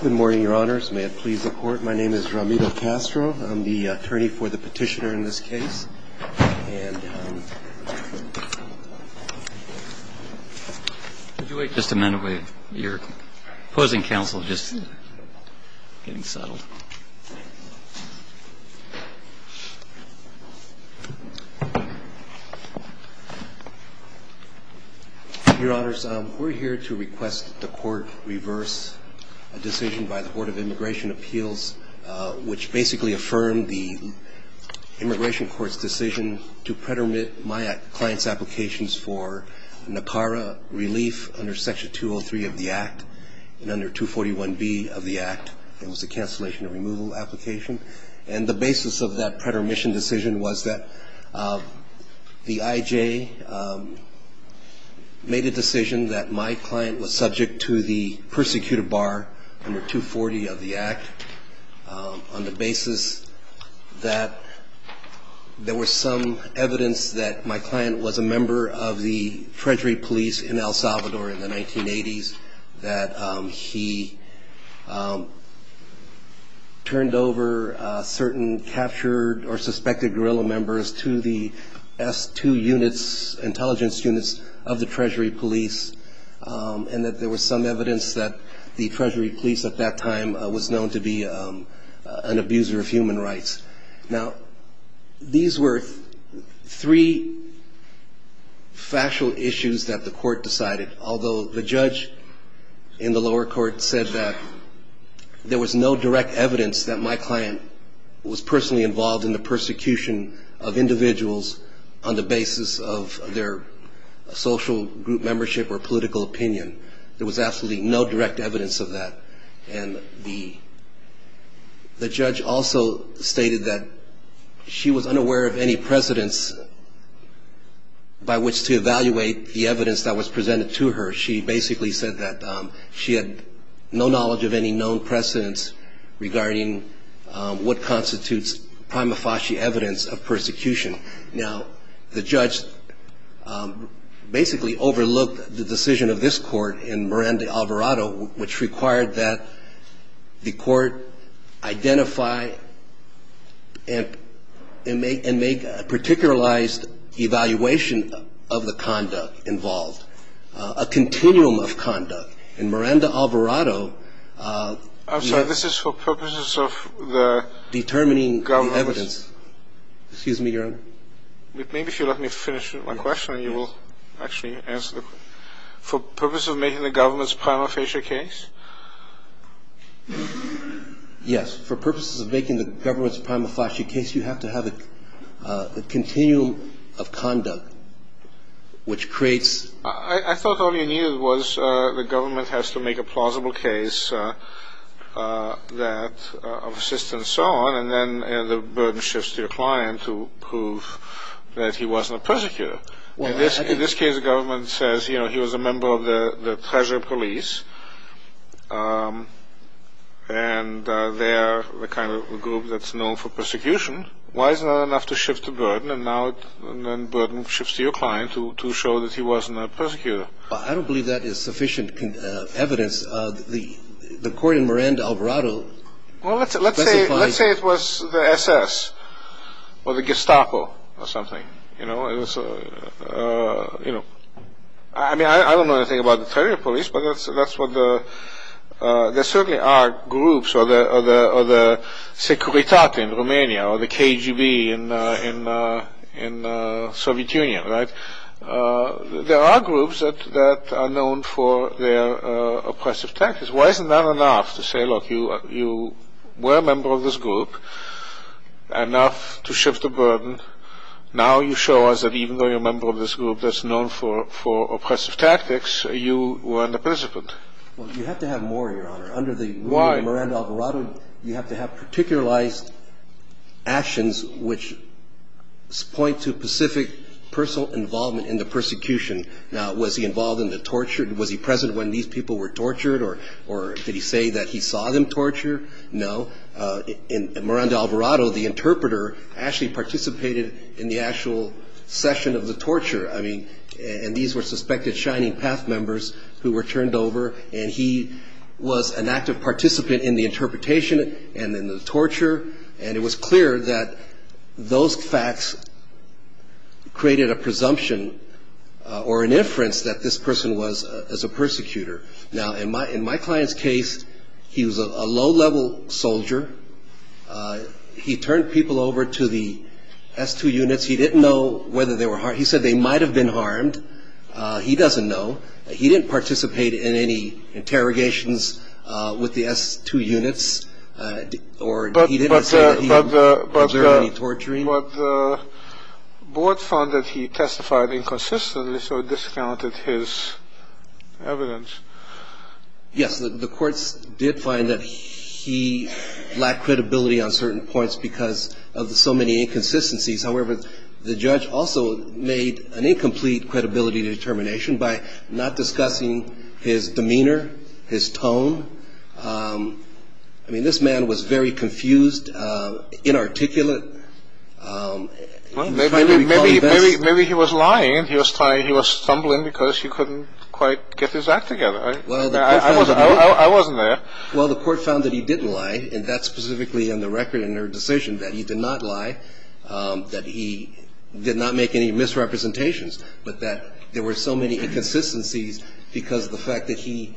Good morning, Your Honors. May it please the Court, my name is Ramiro Castro. I'm the attorney for the petitioner in this case. And could you wait just a minute? You're opposing counsel just getting settled. Your Honors, we're here to request that the Court reverse a decision by the Board of Immigration Appeals, which basically affirmed the Immigration Court's decision to predomit my client's applications for NACARA relief under Section 203 of the Act and under 241B of the Act. It was a cancellation and removal application. And the basis of that predomition decision was that the IJ made a decision that my client was subject to the persecuted bar under 240 of the Act on the basis that there was some evidence that my client was a member of the Treasury police in El Salvador in the 1980s, that he turned over certain captured or suspected guerrilla members to the S2 units, intelligence units of the Treasury police, and that there was some evidence that the Treasury police at that time was known to be an abuser of human rights. Now, these were three factual issues that the Court decided, although the judge in the lower court said that there was no direct evidence that my client was personally involved in the persecution of individuals on the basis of their social group membership or political opinion. There was absolutely no direct evidence of that. And the judge also stated that she was unaware of any precedents by which to evaluate the evidence that was presented to her. She basically said that she had no knowledge of any known precedents regarding what constitutes prima facie evidence of persecution. Now, the judge basically overlooked the decision of this Court in Miranda-Alvarado, which required that the Court identify and make a particularized evaluation of the conduct involved, a continuum of conduct. And Miranda-Alvarado I'm sorry, this is for purposes of determining the evidence. Excuse me, Your Honor. Maybe if you let me finish my question, you will actually answer the question. For purposes of making the government's prima facie case? Yes, for purposes of making the government's prima facie case, you have to have a continuum of conduct, which creates I thought all you needed was the government has to make a plausible case of assistance and so on, and then the burden shifts to your client to prove that he wasn't a persecutor. In this case, the government says he was a member of the Treasurer Police, and they're the kind of group that's known for persecution. Why is it not enough to shift the burden, and now the burden shifts to your client to show that he wasn't a persecutor? I don't believe that is sufficient evidence. The Court in Miranda-Alvarado Well, let's say it was the SS, or the Gestapo, or something. I don't know anything about the Treasurer Police, but there certainly are groups, or the Securitate in Romania, or the KGB in the Soviet Union. There are groups that are known for their oppressive tactics. Why is it not enough to say, look, you were a member of this group, enough to shift the burden. Now you show us that even though you're a member of this group that's known for oppressive tactics, you weren't a participant. Well, you have to have more, Your Honor. Under the rule of Miranda-Alvarado, you have to have particularized actions which point to specific personal involvement in the persecution. Now, was he involved in the torture? Was he present when these people were tortured, or did he say that he saw them torture? No. Miranda-Alvarado, the interpreter, actually participated in the actual session of the torture. I mean, and these were suspected Shining Path members who were turned over, and he was an active participant in the interpretation and in the torture. And it was clear that those facts created a presumption or an inference that this person was a persecutor. Now, in my client's case, he was a low-level soldier. He turned people over to the S2 units. He didn't know whether they were harmed. He said they might have been harmed. He doesn't know. He didn't participate in any interrogations with the S2 units. But the board found that he testified inconsistently, so it discounted his evidence. Yes, the courts did find that he lacked credibility on certain points because of so many inconsistencies. However, the judge also made an incomplete credibility determination by not discussing his demeanor, his tone. I mean, this man was very confused, inarticulate. Maybe he was lying and he was stumbling because he couldn't quite get his act together. I wasn't there. Well, the court found that he didn't lie, and that's specifically in the record in her decision, that he did not lie, that he did not make any misrepresentations, but that there were so many inconsistencies because of the fact that he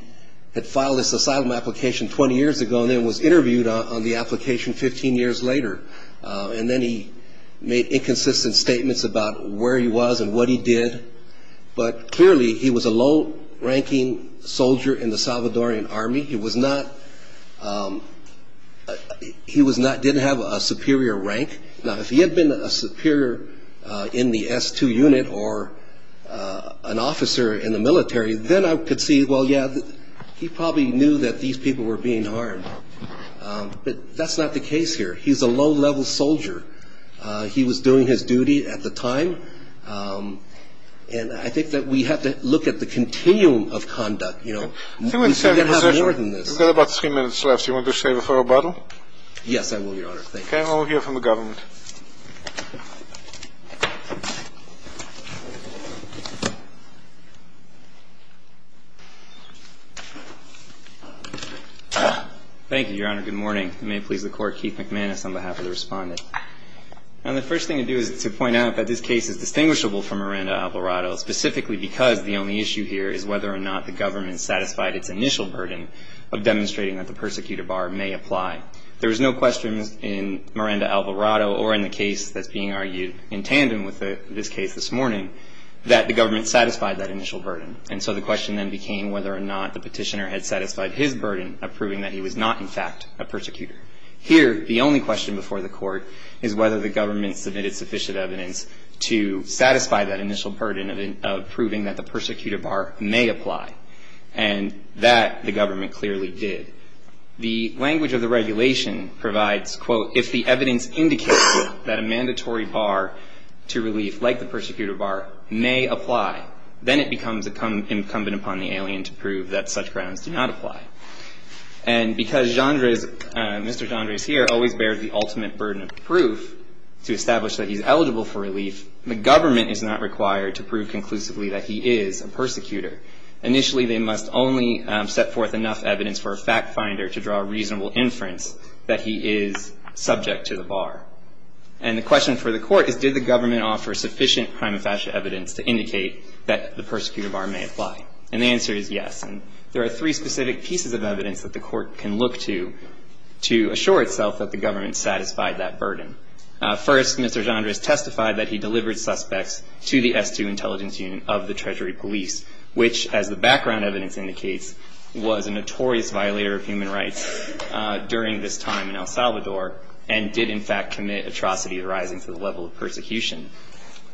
had filed his asylum application 20 years ago and then was interviewed on the application 15 years later. And then he made inconsistent statements about where he was and what he did. But clearly, he was a low-ranking soldier in the Salvadoran Army. He didn't have a superior rank. Now, if he had been a superior in the S2 unit or an officer in the military, then I could see, well, yeah, he probably knew that these people were being harmed. But that's not the case here. He's a low-level soldier. He was doing his duty at the time. And I think that we have to look at the continuum of conduct, you know. We've got about three minutes left. Do you want to save it for rebuttal? Yes, I will, Your Honor. Okay, well, we'll hear from the government. Thank you, Your Honor. Good morning. It may please the Court, Keith McManus on behalf of the respondent. Now, the first thing to do is to point out that this case is distinguishable from Miranda-Alvarado, specifically because the only issue here is whether or not the government satisfied its initial burden of demonstrating that the persecutor bar may apply. There was no question in Miranda-Alvarado or in the case that's being argued in tandem with this case this morning that the government satisfied that initial burden. And so the question then became whether or not the petitioner had satisfied his burden of proving that he was not, in fact, a persecutor. Here, the only question before the Court is whether the government submitted sufficient evidence to satisfy that initial burden of proving that the persecutor bar may apply. And that, the government clearly did. The language of the regulation provides, quote, if the evidence indicates that a mandatory bar to relief, like the persecutor bar, may apply, then it becomes incumbent upon the alien to prove that such grounds do not apply. And because Mr. Gendre is here, always bears the ultimate burden of proof to establish that he's eligible for relief, the government is not required to prove conclusively that he is a persecutor. Initially, they must only set forth enough evidence for a fact finder to draw a reasonable inference that he is subject to the bar. And the question for the Court is, did the government offer sufficient prima facie evidence to indicate that the persecutor bar may apply? And the answer is yes. And there are three specific pieces of evidence that the Court can look to to assure itself that the government satisfied that burden. First, Mr. Gendre has testified that he delivered suspects to the S2 Intelligence Union of the Treasury Police, which, as the background evidence indicates, was a notorious violator of human rights during this time in El Salvador and did, in fact, commit atrocity arising from the level of persecution.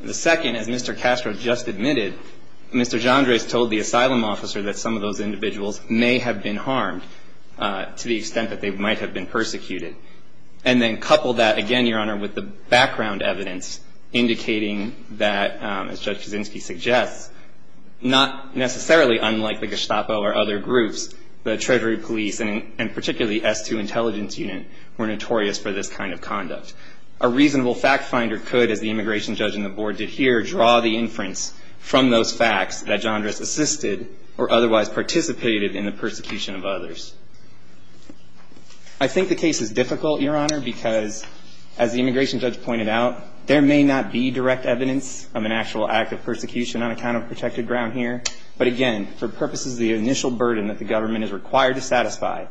The second, as Mr. Castro just admitted, Mr. Gendre has told the asylum officer that some of those individuals may have been harmed to the extent that they might have been persecuted. And then couple that, again, Your Honor, with the background evidence indicating that, as Judge Kaczynski suggests, not necessarily unlike the Gestapo or other groups, the Treasury Police and particularly S2 Intelligence Unit were notorious for this kind of conduct. A reasonable fact finder could, as the immigration judge and the Board did here, draw the inference from those facts that Gendre has assisted or otherwise participated in the persecution of others. I think the case is difficult, Your Honor, because, as the immigration judge pointed out, there may not be direct evidence of an actual act of persecution on account of protected ground here. But, again, for purposes of the initial burden that the government is required to satisfy,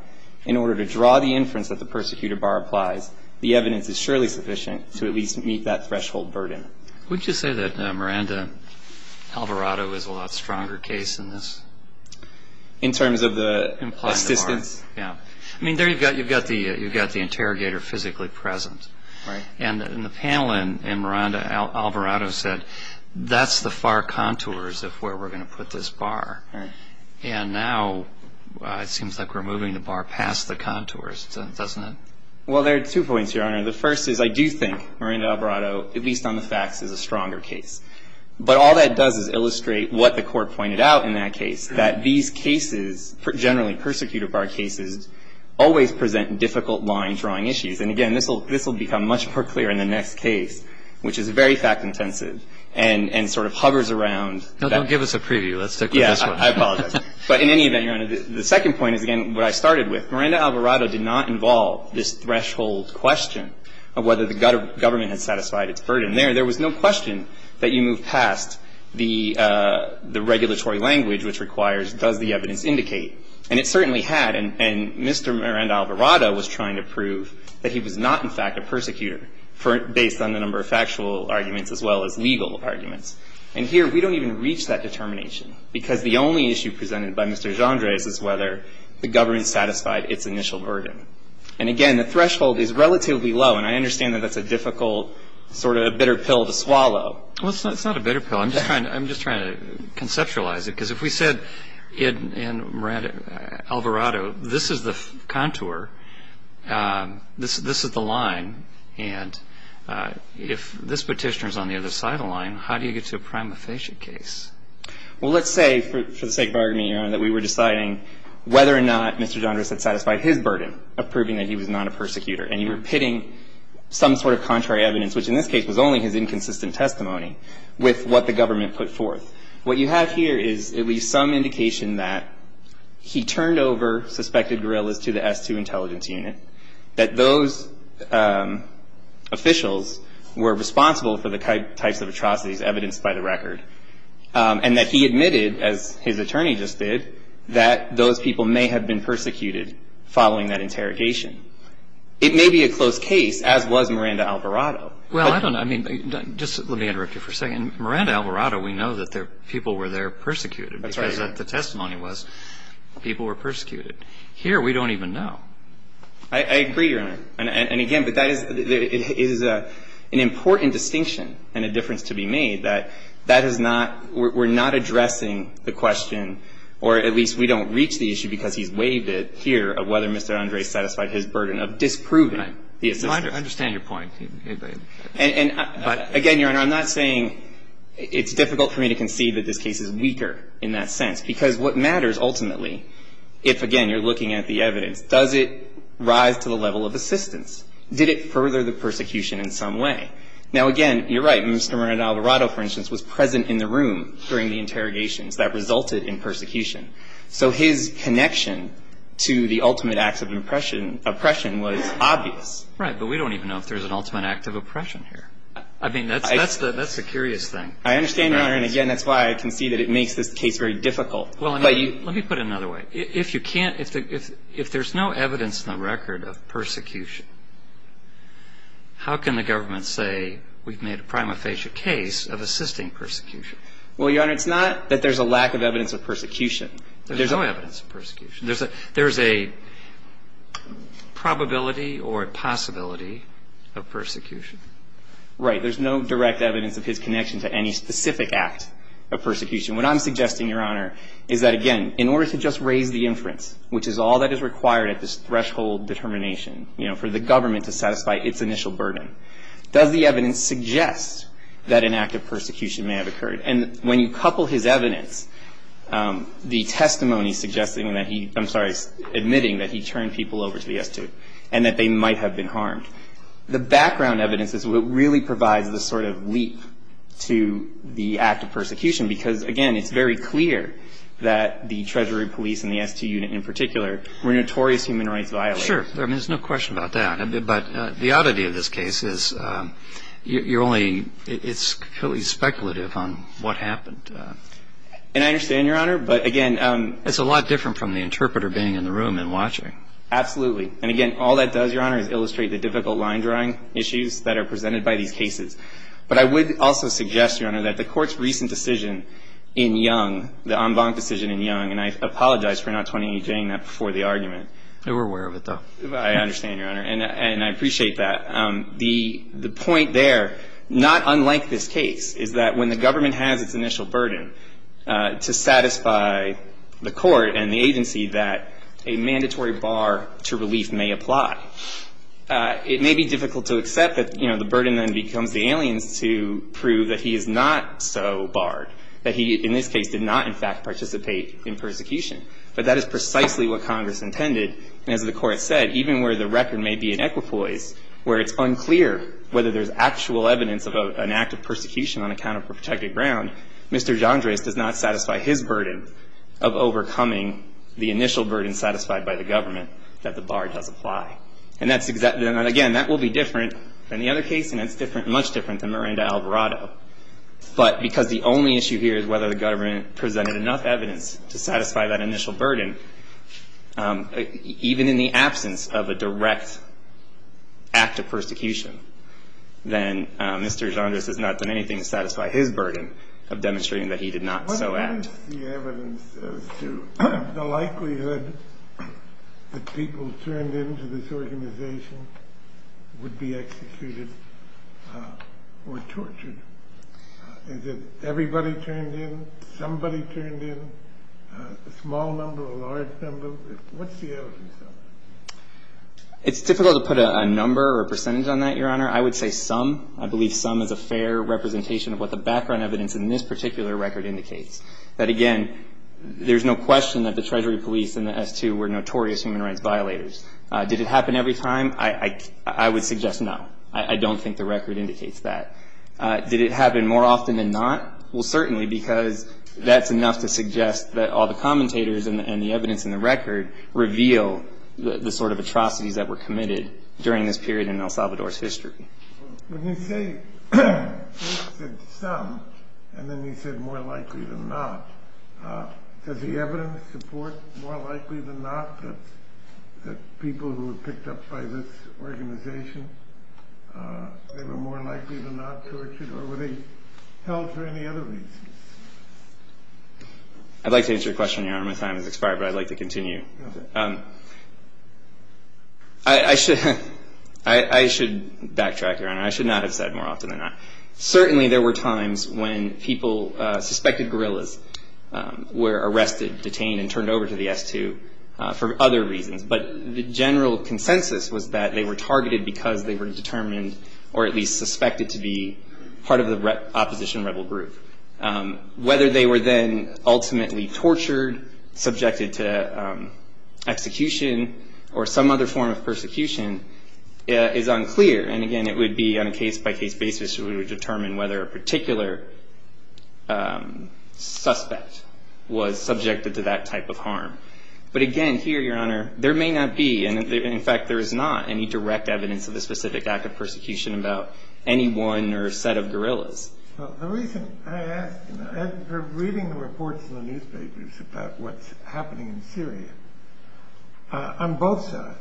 in order to draw the inference that the persecuted bar applies, the evidence is surely sufficient to at least meet that threshold burden. Would you say that Miranda Alvarado is a lot stronger case in this? In terms of the assistance? Yeah. I mean, there you've got the interrogator physically present. Right. And the panel and Miranda Alvarado said, that's the far contours of where we're going to put this bar. And now it seems like we're moving the bar past the contours, doesn't it? Well, there are two points, Your Honor. The first is I do think Miranda Alvarado, at least on the facts, is a stronger case. But all that does is illustrate what the Court pointed out in that case, that these cases, generally persecuted bar cases, always present difficult line-drawing issues. And, again, this will become much more clear in the next case, which is very fact-intensive and sort of hovers around that. No, don't give us a preview. Let's stick with this one. Yeah, I apologize. But, in any event, Your Honor, the second point is, again, what I started with. Miranda Alvarado did not involve this threshold question of whether the government had satisfied its burden there. There was no question that you move past the regulatory language which requires, does the evidence indicate? And it certainly had. And Mr. Miranda Alvarado was trying to prove that he was not, in fact, a persecutor, based on the number of factual arguments as well as legal arguments. And here we don't even reach that determination, because the only issue presented by Mr. Jandres is whether the government satisfied its initial burden. And, again, the threshold is relatively low, and I understand that that's a difficult sort of bitter pill to swallow. Well, it's not a bitter pill. I'm just trying to conceptualize it. Because if we said in Miranda Alvarado, this is the contour, this is the line, and if this petitioner is on the other side of the line, how do you get to a prima facie case? Well, let's say, for the sake of argument, Your Honor, that we were deciding whether or not Mr. Jandres had satisfied his burden of proving that he was not a persecutor. And you were pitting some sort of contrary evidence, which in this case was only his inconsistent testimony, with what the government put forth. What you have here is at least some indication that he turned over suspected guerrillas to the S2 intelligence unit, that those officials were responsible for the types of atrocities evidenced by the record, and that he admitted, as his attorney just did, that those people may have been persecuted following that interrogation. It may be a close case, as was Miranda Alvarado. Well, I don't know. I mean, just let me interrupt you for a second. In Miranda Alvarado, we know that people were there persecuted. That's right. Because the testimony was people were persecuted. Here, we don't even know. I agree, Your Honor. And, again, but that is an important distinction and a difference to be made, that that is not we're not addressing the question, or at least we don't reach the issue because he's waived it here, of whether Mr. Jandres satisfied his burden of disproving the assistance. I understand your point. And, again, Your Honor, I'm not saying it's difficult for me to concede that this case is weaker in that sense. Because what matters, ultimately, if, again, you're looking at the evidence, does it rise to the level of assistance? Did it further the persecution in some way? Now, again, you're right. Mr. Miranda Alvarado, for instance, was present in the room during the interrogations that resulted in persecution. So his connection to the ultimate acts of oppression was obvious. Right. But we don't even know if there's an ultimate act of oppression here. I mean, that's a curious thing. I understand, Your Honor. And, again, that's why I concede that it makes this case very difficult. Let me put it another way. If there's no evidence in the record of persecution, how can the government say we've made a prima facie case of assisting persecution? Well, Your Honor, it's not that there's a lack of evidence of persecution. There's no evidence of persecution. There's a probability or a possibility of persecution. Right. There's no direct evidence of his connection to any specific act of persecution. What I'm suggesting, Your Honor, is that, again, in order to just raise the inference, which is all that is required at this threshold determination, you know, for the government to satisfy its initial burden, does the evidence suggest that an act of persecution may have occurred? And when you couple his evidence, the testimony suggesting that he, I'm sorry, admitting that he turned people over to the S2 and that they might have been harmed, the background evidence is what really provides the sort of leap to the act of persecution because, again, it's very clear that the Treasury police and the S2 unit in particular were notorious human rights violators. Sure. I mean, there's no question about that. But the oddity of this case is you're only – it's purely speculative on what happened. And I understand, Your Honor, but, again, It's a lot different from the interpreter being in the room and watching. Absolutely. And, again, all that does, Your Honor, is illustrate the difficult line drawing issues that are presented by these cases. But I would also suggest, Your Honor, that the Court's recent decision in Young, the en banc decision in Young, and I apologize for not 2018-ing that before the argument. They were aware of it, though. I understand, Your Honor. And I appreciate that. The point there, not unlike this case, is that when the government has its initial burden to satisfy the court and the agency that a mandatory bar to relief may apply, it may be difficult to accept that, you know, the burden then becomes the alien's to prove that he is not so barred, that he, in this case, did not, in fact, participate in persecution. But that is precisely what Congress intended. And as the Court has said, even where the record may be in equipoise, where it's unclear whether there's actual evidence of an act of persecution on account of protected ground, Mr. Jandres does not satisfy his burden of overcoming the initial burden satisfied by the government that the bar does apply. And, again, that will be different than the other case, and it's much different than Miranda-Alvarado. But because the only issue here is whether the government presented enough evidence to satisfy that initial burden, even in the absence of a direct act of persecution, then Mr. Jandres has not done anything to satisfy his burden of demonstrating that he did not so act. What is the evidence as to the likelihood that people turned into this organization would be executed or tortured? Is it everybody turned in? Somebody turned in? A small number or a large number? What's the evidence? It's difficult to put a number or a percentage on that, Your Honor. I would say some. I believe some is a fair representation of what the background evidence in this particular record indicates, that, again, there's no question that the Treasury Police and the S2 were notorious human rights violators. Did it happen every time? I would suggest no. I don't think the record indicates that. Did it happen more often than not? Well, certainly, because that's enough to suggest that all the commentators and the evidence in the record reveal the sort of atrocities that were committed during this period in El Salvador's history. When you say some, and then you said more likely than not, does the evidence support more likely than not that people who were picked up by this organization, they were more likely than not tortured, or were they held for any other reason? I'd like to answer your question, Your Honor. My time has expired, but I'd like to continue. I should backtrack, Your Honor. I should not have said more often than not. Certainly there were times when people, suspected guerrillas, were arrested, detained, and turned over to the S2 for other reasons. But the general consensus was that they were targeted because they were determined, or at least suspected to be, part of the opposition rebel group. Whether they were then ultimately tortured, subjected to execution, or some other form of persecution is unclear. And again, it would be on a case-by-case basis that we would determine whether a particular suspect was subjected to that type of harm. But again, here, Your Honor, there may not be, and in fact there is not any direct evidence of a specific act of persecution about anyone or a set of guerrillas. The reason I ask, on both sides.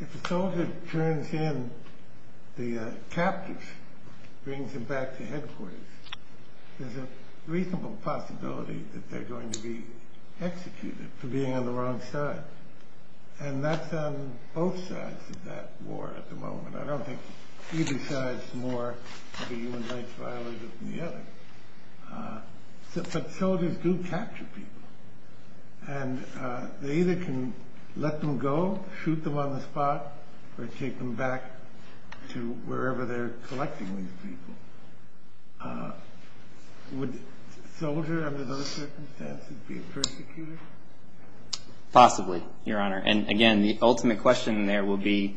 If a soldier turns in the captors, brings them back to headquarters, there's a reasonable possibility that they're going to be executed for being on the wrong side. And that's on both sides of that war at the moment. I don't think either side's more of a human rights violator than the other. But soldiers do capture people. And they either can let them go, shoot them on the spot, or take them back to wherever they're collecting these people. Would a soldier, under those circumstances, be a persecutor? Possibly, Your Honor. And again, the ultimate question there would be,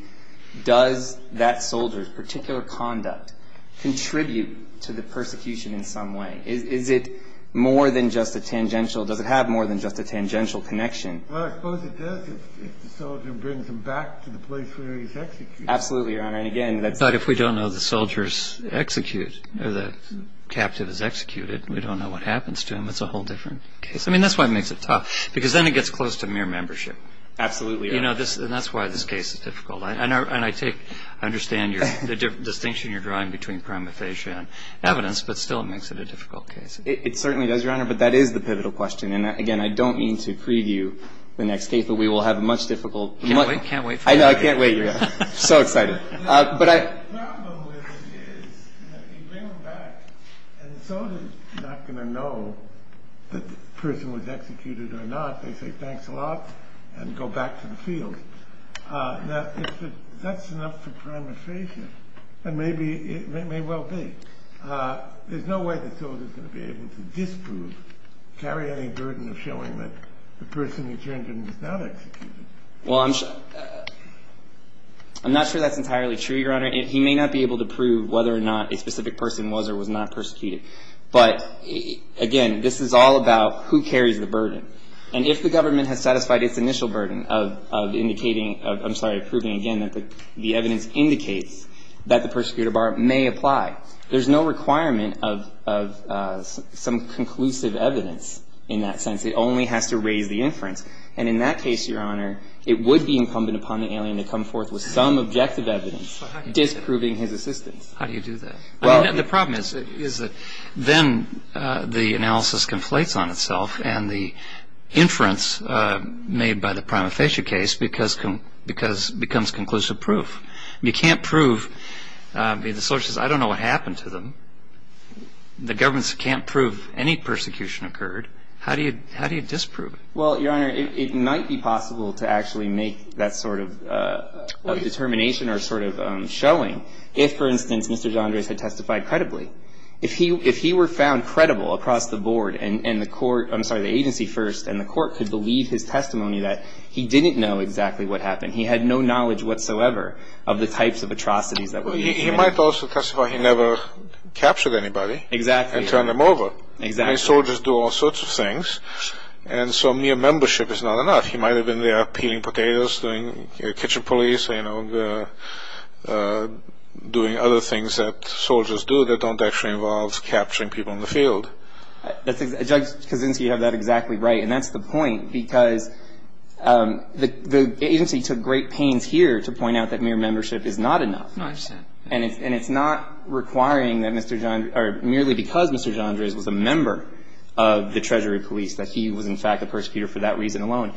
does that soldier's particular conduct contribute to the persecution in some way? Is it more than just a tangential, does it have more than just a tangential connection? Well, I suppose it does, if the soldier brings them back to the place where he's executed. Absolutely, Your Honor. But if we don't know the soldiers execute, or the captive is executed, and we don't know what happens to him, it's a whole different case. I mean, that's why it makes it tough. Because then it gets close to mere membership. Absolutely. And that's why this case is difficult. And I take, I understand the distinction you're drawing between prima facie and evidence, but still it makes it a difficult case. It certainly does, Your Honor. But that is the pivotal question. And again, I don't mean to preview the next case, but we will have a much difficult... Can't wait for it. I know, I can't wait, Your Honor. So excited. But I... The problem with it is, if you bring them back, and the soldier's not going to know that the person was executed or not, they say, thanks a lot, and go back to the field. Now, if that's enough for prima facie, then maybe, it may well be. There's no way the soldier's going to be able to disprove, carry any burden of showing that the person who turned in was not executed. Well, I'm... I'm not sure that's entirely true, Your Honor. He may not be able to prove whether or not a specific person was or was not persecuted. But, again, this is all about who carries the burden. And if the government has satisfied its initial burden of indicating, I'm sorry, proving again that the evidence indicates that the persecutor bar may apply, there's no requirement of some conclusive evidence in that sense. It only has to raise the inference. And in that case, Your Honor, it would be incumbent upon the alien to come forth with some objective evidence disproving his assistance. How do you do that? Well... The problem is that then the analysis conflates on itself, and the inference made by the prima facie case becomes conclusive proof. You can't prove... The source says, I don't know what happened to them. The government can't prove any persecution occurred. How do you disprove it? Well, Your Honor, it might be possible to actually make that sort of determination or sort of showing if, for instance, Mr. Jandres had testified credibly. If he were found credible across the board and the court... I'm sorry, the agency first, and the court could believe his testimony that he didn't know exactly what happened, he had no knowledge whatsoever of the types of atrocities that were being committed. He might also testify he never captured anybody... Exactly. ...and turned them over. Exactly. I mean, soldiers do all sorts of things, and so mere membership is not enough. He might have been there peeling potatoes, doing kitchen police, you know, doing other things that soldiers do that don't actually involve capturing people in the field. Judge Kaczynski, you have that exactly right, and that's the point, because the agency took great pains here to point out that mere membership is not enough. No, I understand. And it's not requiring that Mr. Jandres or merely because Mr. Jandres was a member of the Treasury Police that he was, in fact, a persecutor for that reason alone.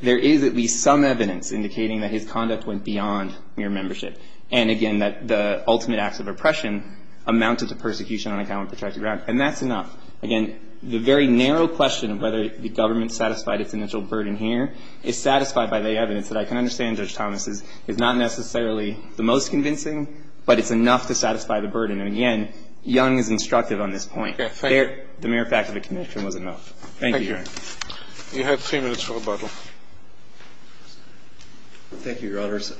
There is at least some evidence indicating that his conduct went beyond mere membership and, again, that the ultimate acts of oppression amounted to persecution on account of protected ground, and that's enough. Again, the very narrow question of whether the government satisfied its initial burden here is satisfied by the evidence that I can understand, Judge Thomas, is not necessarily the most convincing, but it's enough to satisfy the burden. And, again, Young is instructive on this point. The mere fact of a connection was enough. Thank you, Your Honor. Thank you. You have three minutes for rebuttal. Thank you, Your Honors.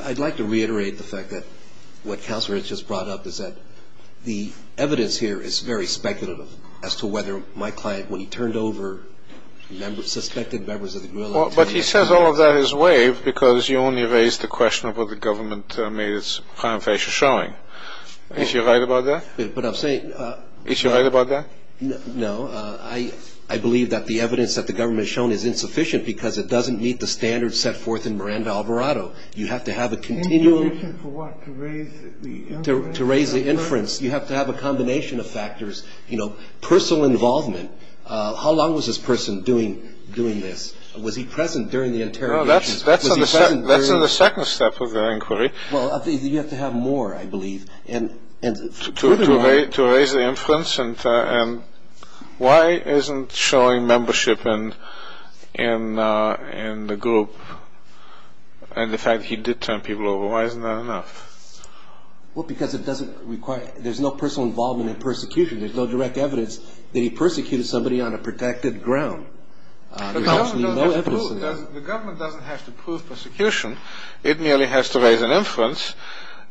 I'd like to reiterate the fact that what Counselor Hitch has brought up is that the evidence here is very speculative as to whether my client, when he turned over, suspected members of the guerrilla... But he says all of that is wave because you only raised the question of what the government made its prime facial showing. Is he right about that? But I'm saying... Is he right about that? No. I believe that the evidence that the government has shown is insufficient because it doesn't meet the standards set forth in Miranda-Alvarado. You have to have a continuum... In addition to what? To raise the inference. To raise the inference. You have to have a combination of factors. You know, personal involvement. How long was this person doing this? Was he present during the interrogation? No, that's in the second step of the inquiry. Well, you have to have more, I believe. To raise the inference. And why isn't showing membership in the group and the fact that he did turn people over, why isn't that enough? Well, because it doesn't require... There's no personal involvement in persecution. There's no direct evidence that he persecuted somebody on a protected ground. There's actually no evidence of that. The government doesn't have to prove persecution. It merely has to raise an inference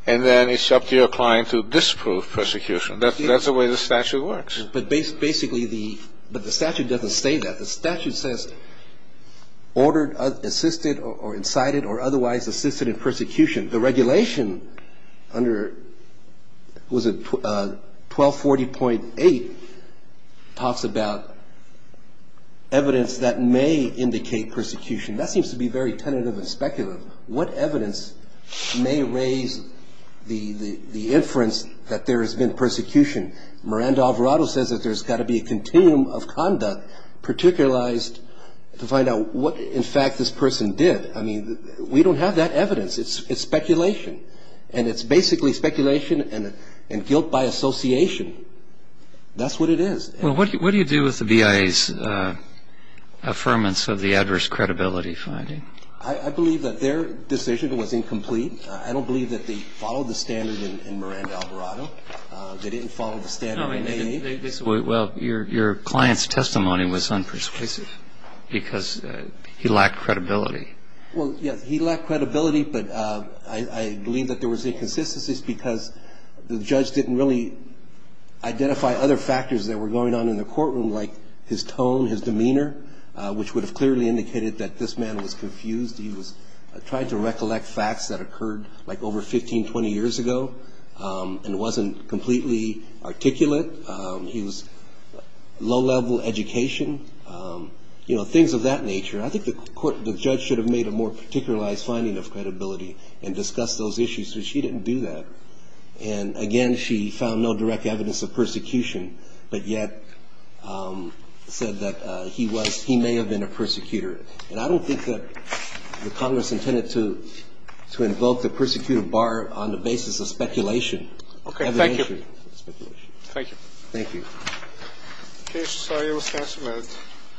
and then it's up to your client to disprove persecution. That's the way the statute works. But basically the statute doesn't say that. The statute says ordered, assisted, or incited, or otherwise assisted in persecution. The regulation under 1240.8 talks about evidence that may indicate persecution. That seems to be very tentative and speculative. What evidence may raise the inference that there has been persecution? Miranda Alvarado says that there's got to be a continuum of conduct particularized to find out what, in fact, this person did. I mean, we don't have that evidence. It's speculation. And it's basically speculation and guilt by association. That's what it is. Well, what do you do with the BIA's affirmance of the adverse credibility finding? I believe that their decision was incomplete. I don't believe that they followed the standard in Miranda Alvarado. They didn't follow the standard in AA. Well, your client's testimony was unpersuasive because he lacked credibility. Well, yes, he lacked credibility. But I believe that there was inconsistencies because the judge didn't really identify other factors that were going on in the courtroom like his tone, his demeanor, which would have clearly indicated that this man was confused. He was trying to recollect facts that occurred like over 15, 20 years ago and wasn't completely articulate. He was low-level education, you know, things of that nature. I think the judge should have made a more particularized finding of credibility and discussed those issues, but she didn't do that. And, again, she found no direct evidence of persecution but yet said that he may have been a persecutor. And I don't think that the Congress intended to invoke the persecutor bar on the basis of speculation. Okay, thank you. Thank you. Thank you. Okay, Mr. Sawyer, we'll stand for a minute.